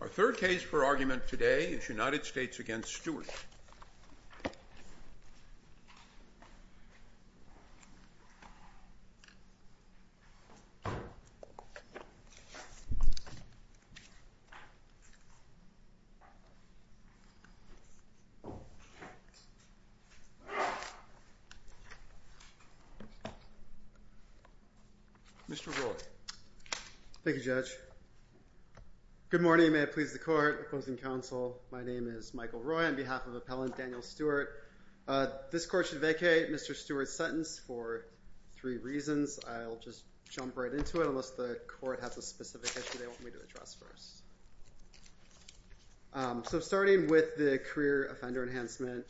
Our third case for argument today is United States v. Stewart. Mr. Roy. Thank you, Judge. Good morning. May it please the court opposing counsel. My name is Michael Roy on behalf of appellant Daniel Stewart. This court should vacate Mr. Stewart's sentence for three reasons. I'll just jump right into it unless the court has a specific issue they want me to address first. So starting with the career offender enhancement.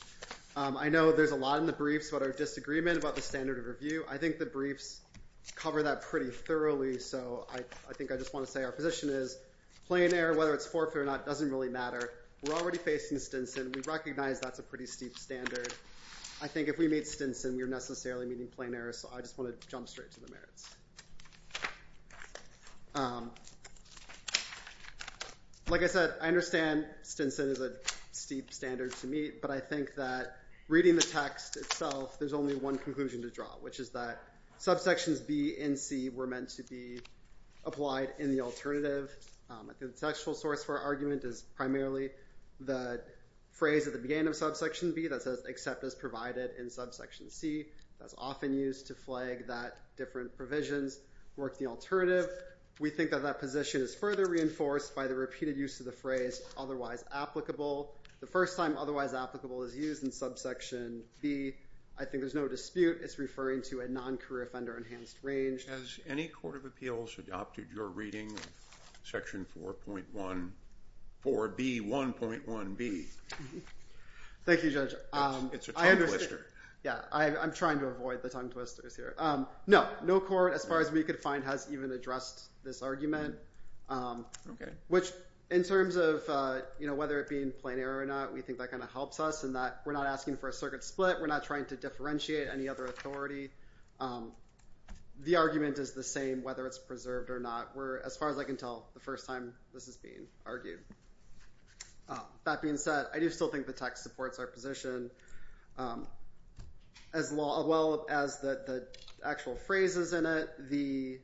I know there's a lot in the briefs that are disagreement about the standard of review. I think the briefs cover that pretty thoroughly. So I think I just want to say our position is plain error, whether it's forfeit or not, doesn't really matter. We're already facing Stinson. We recognize that's a pretty steep standard. I think if we meet Stinson, we're necessarily meeting plain error. So I just want to jump straight to the merits. Like I said, I understand Stinson is a steep standard to meet. But I think that reading the text itself, there's only one conclusion to draw, which is that subsections B and C were meant to be applied in the alternative. The contextual source for our argument is primarily the phrase at the beginning of subsection B that says, except as provided in subsection C. That's often used to flag that different provisions work the alternative. We think that that position is further reinforced by the repeated use of the phrase otherwise applicable. The first time otherwise applicable is used in subsection B. I think there's no dispute it's referring to a non-career offender enhanced range. Has any court of appeals adopted your reading of section 4.1, 4B, 1.1B? Thank you, Judge. It's a tongue twister. Yeah, I'm trying to avoid the tongue twisters here. No, no court, as far as we could find, has even addressed this argument. Okay. Which in terms of whether it be in plain error or not, we think that kind of helps us in that we're not asking for a circuit split. We're not trying to differentiate any other authority. The argument is the same whether it's preserved or not. As far as I can tell, the first time this is being argued. That being said, I do still think the text supports our position. As well as the actual phrases in it, the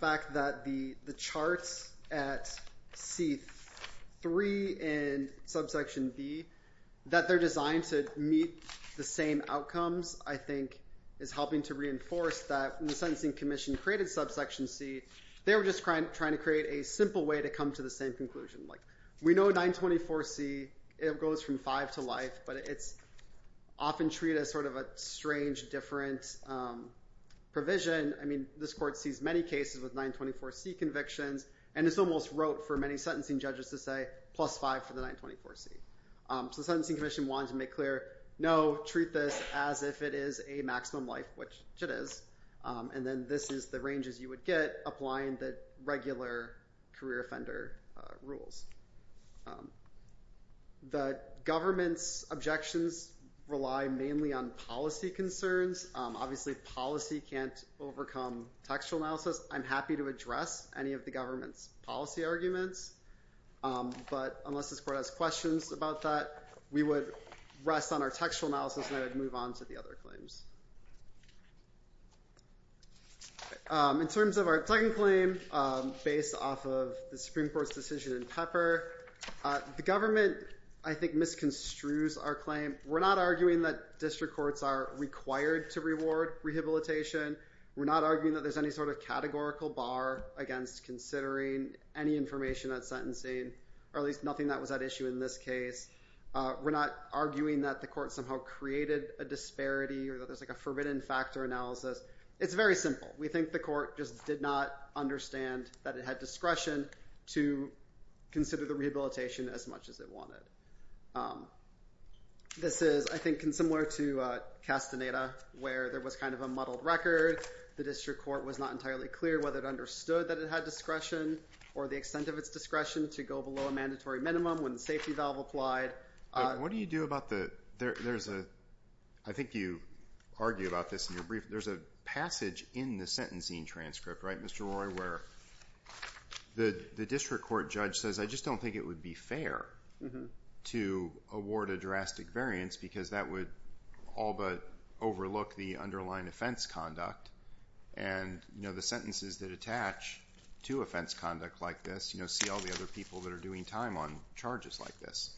fact that the charts at C3 in subsection B that they're designed to meet the same outcomes, I think is helping to reinforce that when the Sentencing Commission created subsection C, they were just trying to create a simple way to come to the same conclusion. We know 924C, it goes from five to life, but it's often treated as sort of a strange, different provision. I mean, this court sees many cases with 924C convictions, and it's almost rote for many sentencing judges to say plus five for the 924C. So the Sentencing Commission wanted to make clear, no, treat this as if it is a maximum life, which it is. And then this is the ranges you would get applying the regular career offender rules. The government's objections rely mainly on policy concerns. Obviously, policy can't overcome textual analysis. I'm happy to address any of the government's policy arguments. But unless this court has questions about that, we would rest on our textual analysis, and I would move on to the other claims. In terms of our second claim, based off of the Supreme Court's decision in Pepper, the government, I think, misconstrues our claim. We're not arguing that district courts are required to reward rehabilitation. We're not arguing that there's any sort of categorical bar against considering any information that's sentencing, or at least nothing that was at issue in this case. We're not arguing that the court somehow created a disparity or that there's like a forbidden factor analysis. It's very simple. We think the court just did not understand that it had discretion to consider the rehabilitation as much as it wanted. This is, I think, similar to Castaneda, where there was kind of a muddled record. The district court was not entirely clear whether it understood that it had discretion or the extent of its discretion to go below a mandatory minimum when the safety valve applied. What do you do about the – there's a – I think you argue about this in your brief. There's a passage in the sentencing transcript, right, Mr. Roy, where the district court judge says, I just don't think it would be fair to award a drastic variance because that would all but overlook the underlying offense conduct. And the sentences that attach to offense conduct like this see all the other people that are doing time on charges like this.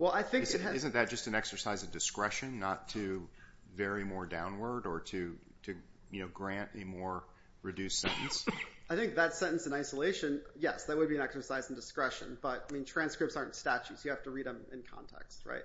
Isn't that just an exercise of discretion not to vary more downward or to grant a more reduced sentence? I think that sentence in isolation, yes, that would be an exercise in discretion. But, I mean, transcripts aren't statutes. You have to read them in context, right?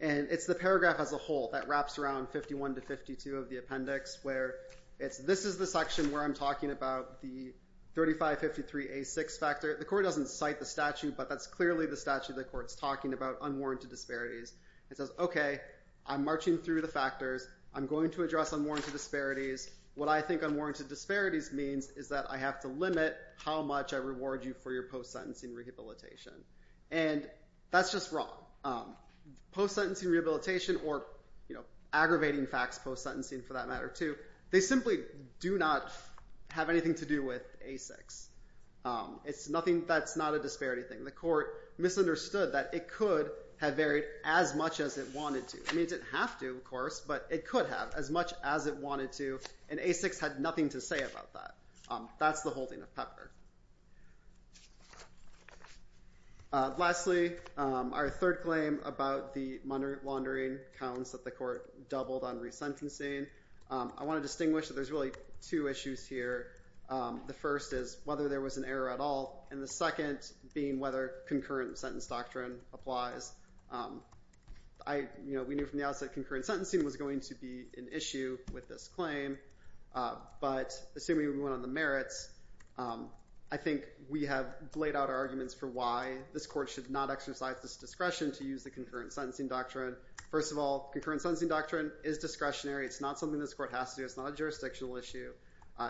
And it's the paragraph as a whole that wraps around 51 to 52 of the appendix where it's – this is the section where I'm talking about the 3553A6 factor. The court doesn't cite the statute, but that's clearly the statute the court's talking about unwarranted disparities. It says, okay, I'm marching through the factors. I'm going to address unwarranted disparities. What I think unwarranted disparities means is that I have to limit how much I reward you for your post-sentencing rehabilitation. And that's just wrong. Post-sentencing rehabilitation or aggravating facts post-sentencing for that matter too, they simply do not have anything to do with A6. It's nothing – that's not a disparity thing. The court misunderstood that it could have varied as much as it wanted to. I mean, it didn't have to, of course, but it could have as much as it wanted to, and A6 had nothing to say about that. That's the holding of Pepper. Lastly, our third claim about the laundering counts that the court doubled on resentencing. I want to distinguish that there's really two issues here. The first is whether there was an error at all, and the second being whether concurrent sentence doctrine applies. We knew from the outset concurrent sentencing was going to be an issue with this claim, but assuming we went on the merits, I think we have laid out our arguments for why this court should not exercise this discretion to use the concurrent sentencing doctrine. First of all, concurrent sentencing doctrine is discretionary. It's not something this court has to do. It's not a jurisdictional issue.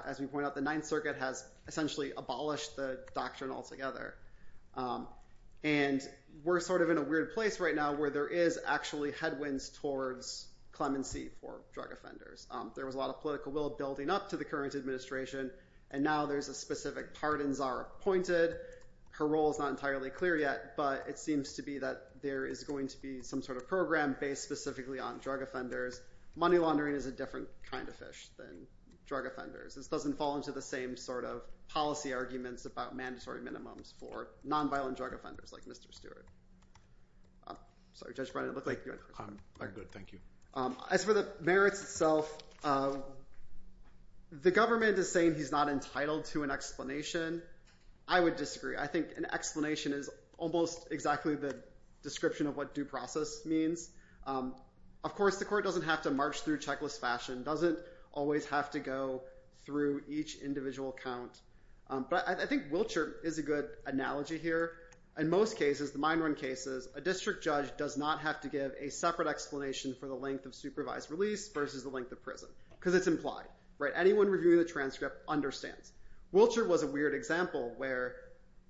As we point out, the Ninth Circuit has essentially abolished the doctrine altogether. And we're sort of in a weird place right now where there is actually headwinds towards clemency for drug offenders. There was a lot of political will building up to the current administration, and now there's a specific pardon czar appointed. Her role is not entirely clear yet, but it seems to be that there is going to be some sort of program based specifically on drug offenders. Money laundering is a different kind of fish than drug offenders. This doesn't fall into the same sort of policy arguments about mandatory minimums for nonviolent drug offenders like Mr. Stewart. Sorry, Judge Brennan, it looked like you had a question. I'm good, thank you. As for the merits itself, the government is saying he's not entitled to an explanation. I would disagree. I think an explanation is almost exactly the description of what due process means. Of course, the court doesn't have to march through checklist fashion, doesn't always have to go through each individual count, but I think Wiltshire is a good analogy here. In most cases, the mine run cases, a district judge does not have to give a separate explanation for the length of supervised release versus the length of prison because it's implied. Anyone reviewing the transcript understands. Wiltshire was a weird example where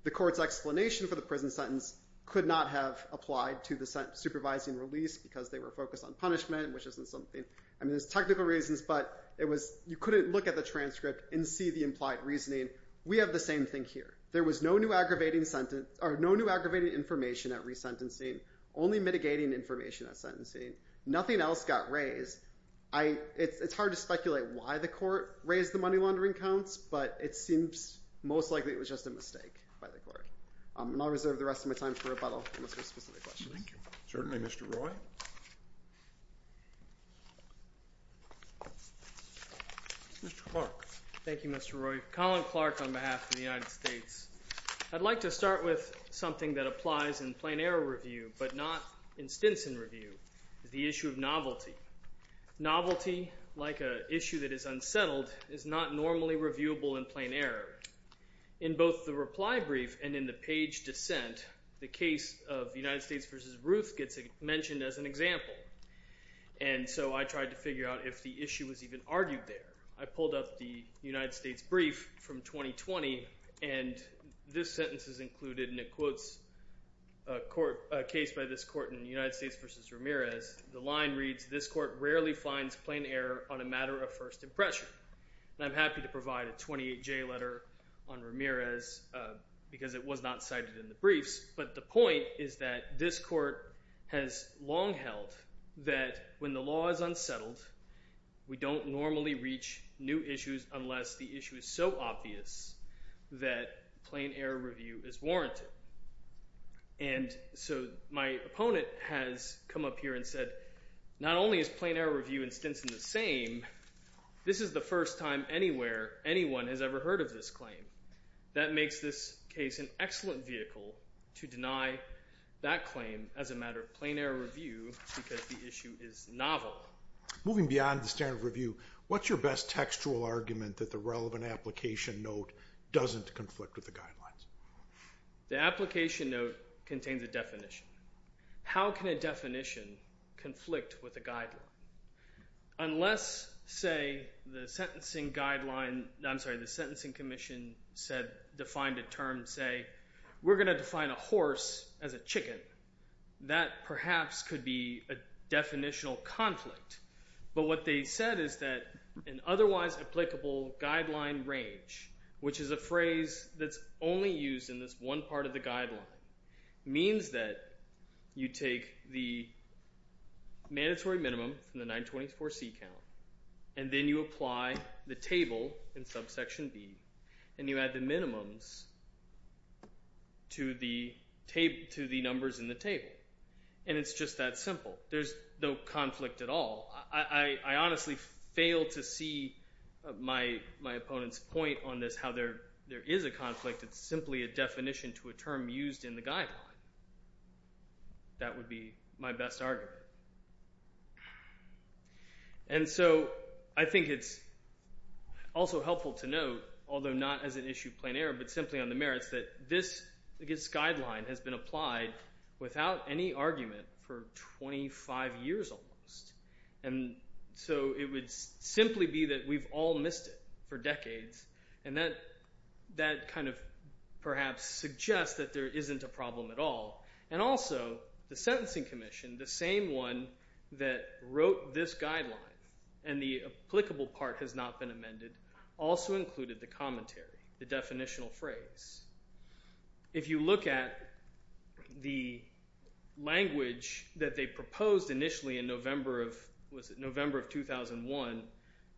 the court's explanation for the prison sentence could not have applied to the supervising release because they were focused on punishment, which isn't something. I mean, there's technical reasons, but you couldn't look at the transcript and see the implied reasoning. We have the same thing here. There was no new aggravating information at resentencing, only mitigating information at sentencing. Nothing else got raised. It's hard to speculate why the court raised the money laundering counts, but it seems most likely it was just a mistake by the court. And I'll reserve the rest of my time for rebuttal unless there's specific questions. Certainly. Mr. Roy? Mr. Clark? Thank you, Mr. Roy. Colin Clark on behalf of the United States. I'd like to start with something that applies in plain error review but not in Stinson review, the issue of novelty. Novelty, like an issue that is unsettled, is not normally reviewable in plain error. In both the reply brief and in the page dissent, the case of United States v. Ruth gets mentioned as an example. And so I tried to figure out if the issue was even argued there. I pulled up the United States brief from 2020, and this sentence is included, and it quotes a case by this court in United States v. Ramirez. The line reads, this court rarely finds plain error on a matter of first impression. And I'm happy to provide a 28-J letter on Ramirez because it was not cited in the briefs. But the point is that this court has long held that when the law is unsettled, we don't normally reach new issues unless the issue is so obvious that plain error review is warranted. And so my opponent has come up here and said, not only is plain error review in Stinson the same, this is the first time anywhere anyone has ever heard of this claim. That makes this case an excellent vehicle to deny that claim as a matter of plain error review because the issue is novel. Moving beyond the standard of review, what's your best textual argument that the relevant application note doesn't conflict with the guidelines? The application note contains a definition. How can a definition conflict with a guideline? Unless, say, the sentencing guideline – I'm sorry, the sentencing commission said – defined a term, say, we're going to define a horse as a chicken. That perhaps could be a definitional conflict. But what they said is that an otherwise applicable guideline range, which is a phrase that's only used in this one part of the guideline, means that you take the mandatory minimum from the 924C count and then you apply the table in subsection B and you add the minimums to the numbers in the table. And it's just that simple. There's no conflict at all. I honestly fail to see my opponent's point on this, how there is a conflict. It's simply a definition to a term used in the guideline. That would be my best argument. And so I think it's also helpful to note, although not as an issue of plain error, but simply on the merits, that this guideline has been applied without any argument for 25 years almost. And so it would simply be that we've all missed it for decades. And that kind of perhaps suggests that there isn't a problem at all. And also the sentencing commission, the same one that wrote this guideline and the applicable part has not been amended, also included the commentary, the definitional phrase. If you look at the language that they proposed initially in November of 2001,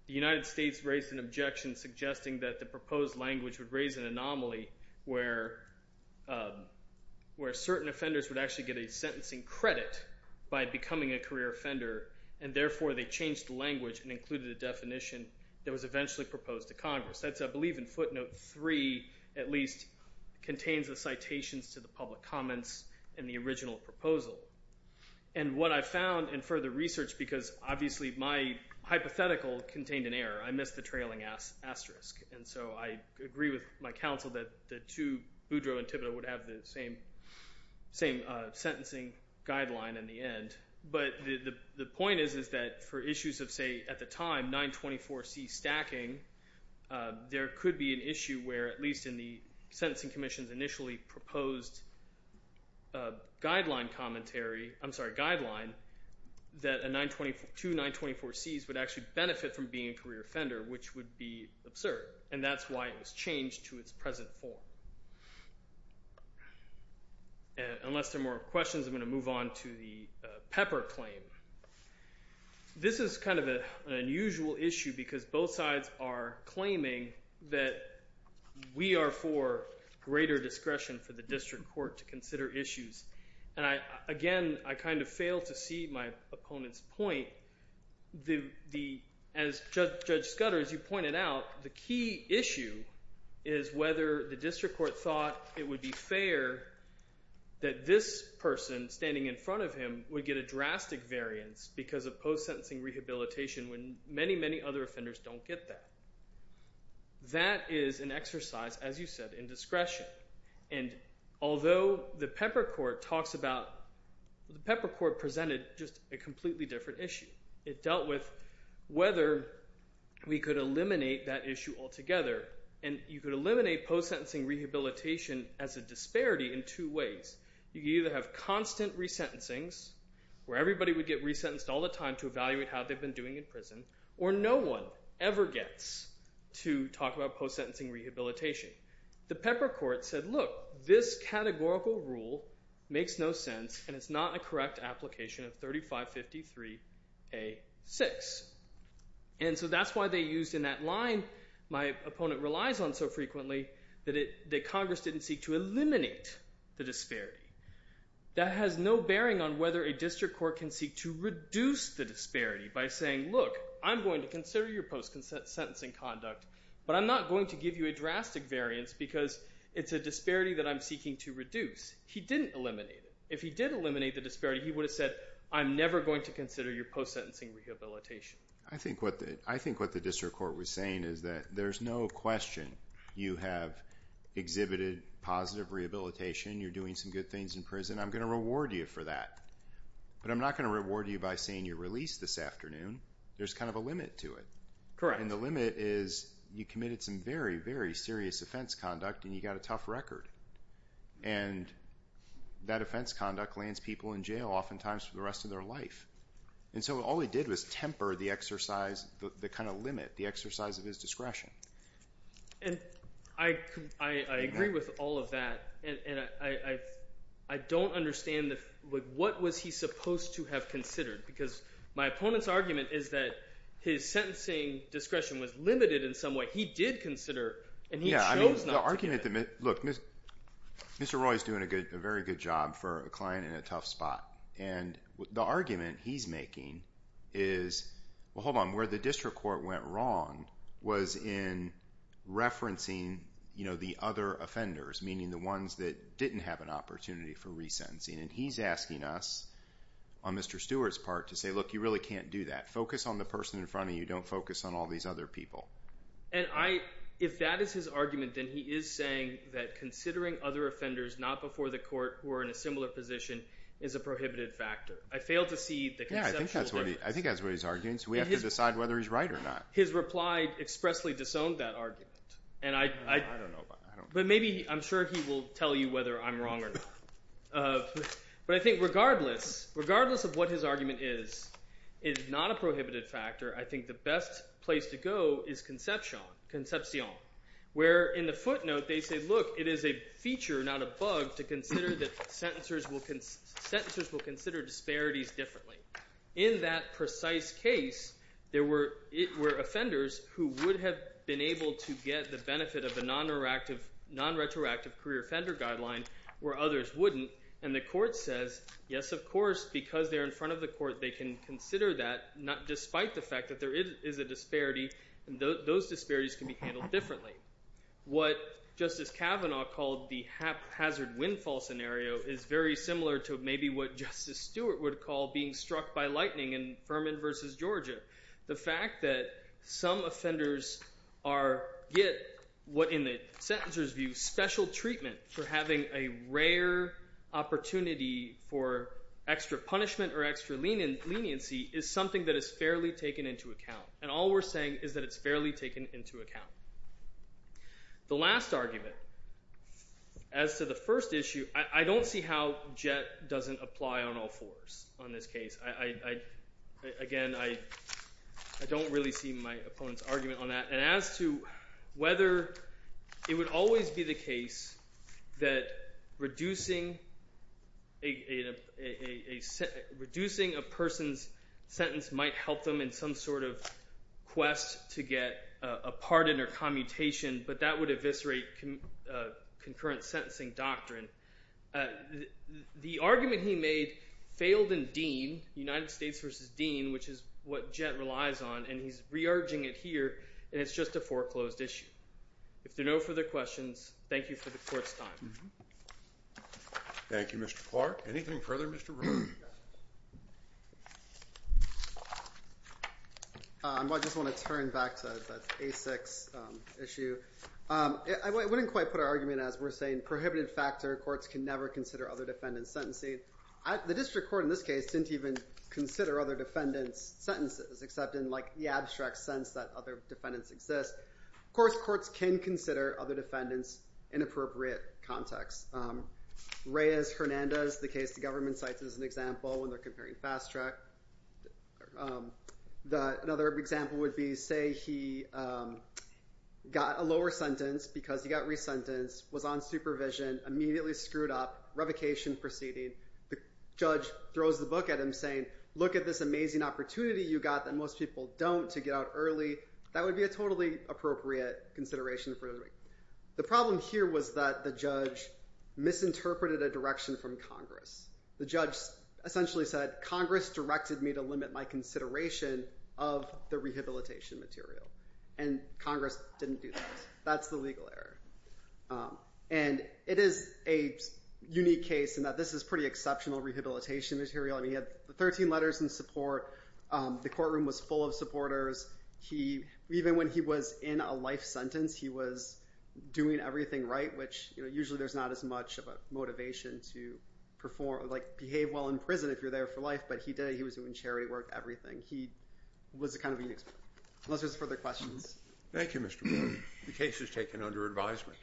the United States raised an objection suggesting that the proposed language would raise an anomaly where certain offenders would actually get a sentencing credit by becoming a career offender. And therefore, they changed the language and included a definition that was eventually proposed to Congress. That's, I believe, in footnote three at least, contains the citations to the public comments and the original proposal. And what I found in further research, because obviously my hypothetical contained an error, I missed the trailing asterisk. And so I agree with my counsel that the two, Boudreau and Thibodeau, would have the same sentencing guideline in the end. But the point is that for issues of, say, at the time, 924C stacking, there could be an issue where, at least in the sentencing commission's initially proposed guideline commentary, I'm sorry, guideline, that two 924Cs would actually benefit from being a career offender, which would be absurd. And that's why it was changed to its present form. Unless there are more questions, I'm going to move on to the Pepper claim. This is kind of an unusual issue because both sides are claiming that we are for greater discretion for the district court to consider issues. And again, I kind of failed to see my opponent's point. As Judge Scudder, as you pointed out, the key issue is whether the district court thought it would be fair that this person standing in front of him would get a drastic variance because of post-sentencing rehabilitation when many, many other offenders don't get that. That is an exercise, as you said, in discretion. And although the Pepper court talks about…the Pepper court presented just a completely different issue. It dealt with whether we could eliminate that issue altogether, and you could eliminate post-sentencing rehabilitation as a disparity in two ways. You could either have constant resentencings where everybody would get resentenced all the time to evaluate how they've been doing in prison, or no one ever gets to talk about post-sentencing rehabilitation. The Pepper court said, look, this categorical rule makes no sense, and it's not a correct application of 3553A6. And so that's why they used in that line my opponent relies on so frequently that Congress didn't seek to eliminate the disparity. That has no bearing on whether a district court can seek to reduce the disparity by saying, look, I'm going to consider your post-sentencing conduct, but I'm not going to give you a drastic variance because it's a disparity that I'm seeking to reduce. He didn't eliminate it. If he did eliminate the disparity, he would have said, I'm never going to consider your post-sentencing rehabilitation. I think what the district court was saying is that there's no question you have exhibited positive rehabilitation. You're doing some good things in prison. I'm going to reward you for that, but I'm not going to reward you by saying you're released this afternoon. There's kind of a limit to it. And the limit is you committed some very, very serious offense conduct, and you got a tough record. And that offense conduct lands people in jail oftentimes for the rest of their life. And so all he did was temper the exercise, the kind of limit, the exercise of his discretion. And I agree with all of that, and I don't understand what was he supposed to have considered? Because my opponent's argument is that his sentencing discretion was limited in some way. He did consider, and he chose not to give it. Look, Mr. Roy is doing a very good job for a client in a tough spot. And the argument he's making is, well, hold on, where the district court went wrong was in referencing the other offenders, meaning the ones that didn't have an opportunity for resentencing. And he's asking us on Mr. Stewart's part to say, look, you really can't do that. Focus on the person in front of you. Don't focus on all these other people. And if that is his argument, then he is saying that considering other offenders not before the court who are in a similar position is a prohibited factor. I fail to see the conceptual difference. I think that's what he's arguing. So we have to decide whether he's right or not. His reply expressly disowned that argument. I don't know about that. But maybe I'm sure he will tell you whether I'm wrong or not. But I think regardless of what his argument is, it is not a prohibited factor. I think the best place to go is conception, where in the footnote they say, look, it is a feature, not a bug, to consider that sentencers will consider disparities differently. In that precise case, there were offenders who would have been able to get the benefit of a non-retroactive career offender guideline where others wouldn't. And the court says, yes, of course, because they're in front of the court, they can consider that despite the fact that there is a disparity. And those disparities can be handled differently. What Justice Kavanaugh called the haphazard windfall scenario is very similar to maybe what Justice Stewart would call being struck by lightning in Furman v. Georgia. The fact that some offenders get what, in the sentencer's view, special treatment for having a rare opportunity for extra punishment or extra leniency is something that is fairly taken into account. And all we're saying is that it's fairly taken into account. The last argument as to the first issue, I don't see how JET doesn't apply on all fours on this case. Again, I don't really see my opponent's argument on that. And as to whether it would always be the case that reducing a person's sentence might help them in some sort of quest to get a pardon or commutation, but that would eviscerate concurrent sentencing doctrine. The argument he made failed in Dean, United States v. Dean, which is what JET relies on, and he's re-urging it here, and it's just a foreclosed issue. If there are no further questions, thank you for the court's time. Thank you, Mr. Clark. Anything further, Mr. Romero? I just want to turn back to the ASICS issue. I wouldn't quite put our argument as we're saying prohibited factor. Courts can never consider other defendants sentencing. The district court in this case didn't even consider other defendants' sentences, except in the abstract sense that other defendants exist. Of course, courts can consider other defendants in appropriate contexts. Reyes-Hernandez, the case the government cites as an example when they're comparing Fast Track. Another example would be, say he got a lower sentence because he got resentenced, was on supervision, immediately screwed up, revocation proceeding. The judge throws the book at him saying, look at this amazing opportunity you got that most people don't to get out early. That would be a totally appropriate consideration. The problem here was that the judge misinterpreted a direction from Congress. The judge essentially said, Congress directed me to limit my consideration of the rehabilitation material. And Congress didn't do that. That's the legal error. And it is a unique case in that this is pretty exceptional rehabilitation material. And he had 13 letters in support. The courtroom was full of supporters. Even when he was in a life sentence, he was doing everything right, which usually there's not as much of a motivation to perform or behave well in prison if you're there for life. But he did it. He was doing charity work, everything. He was a kind of an expert. Unless there's further questions. Thank you, Mr. Morgan. The case is taken under advisement.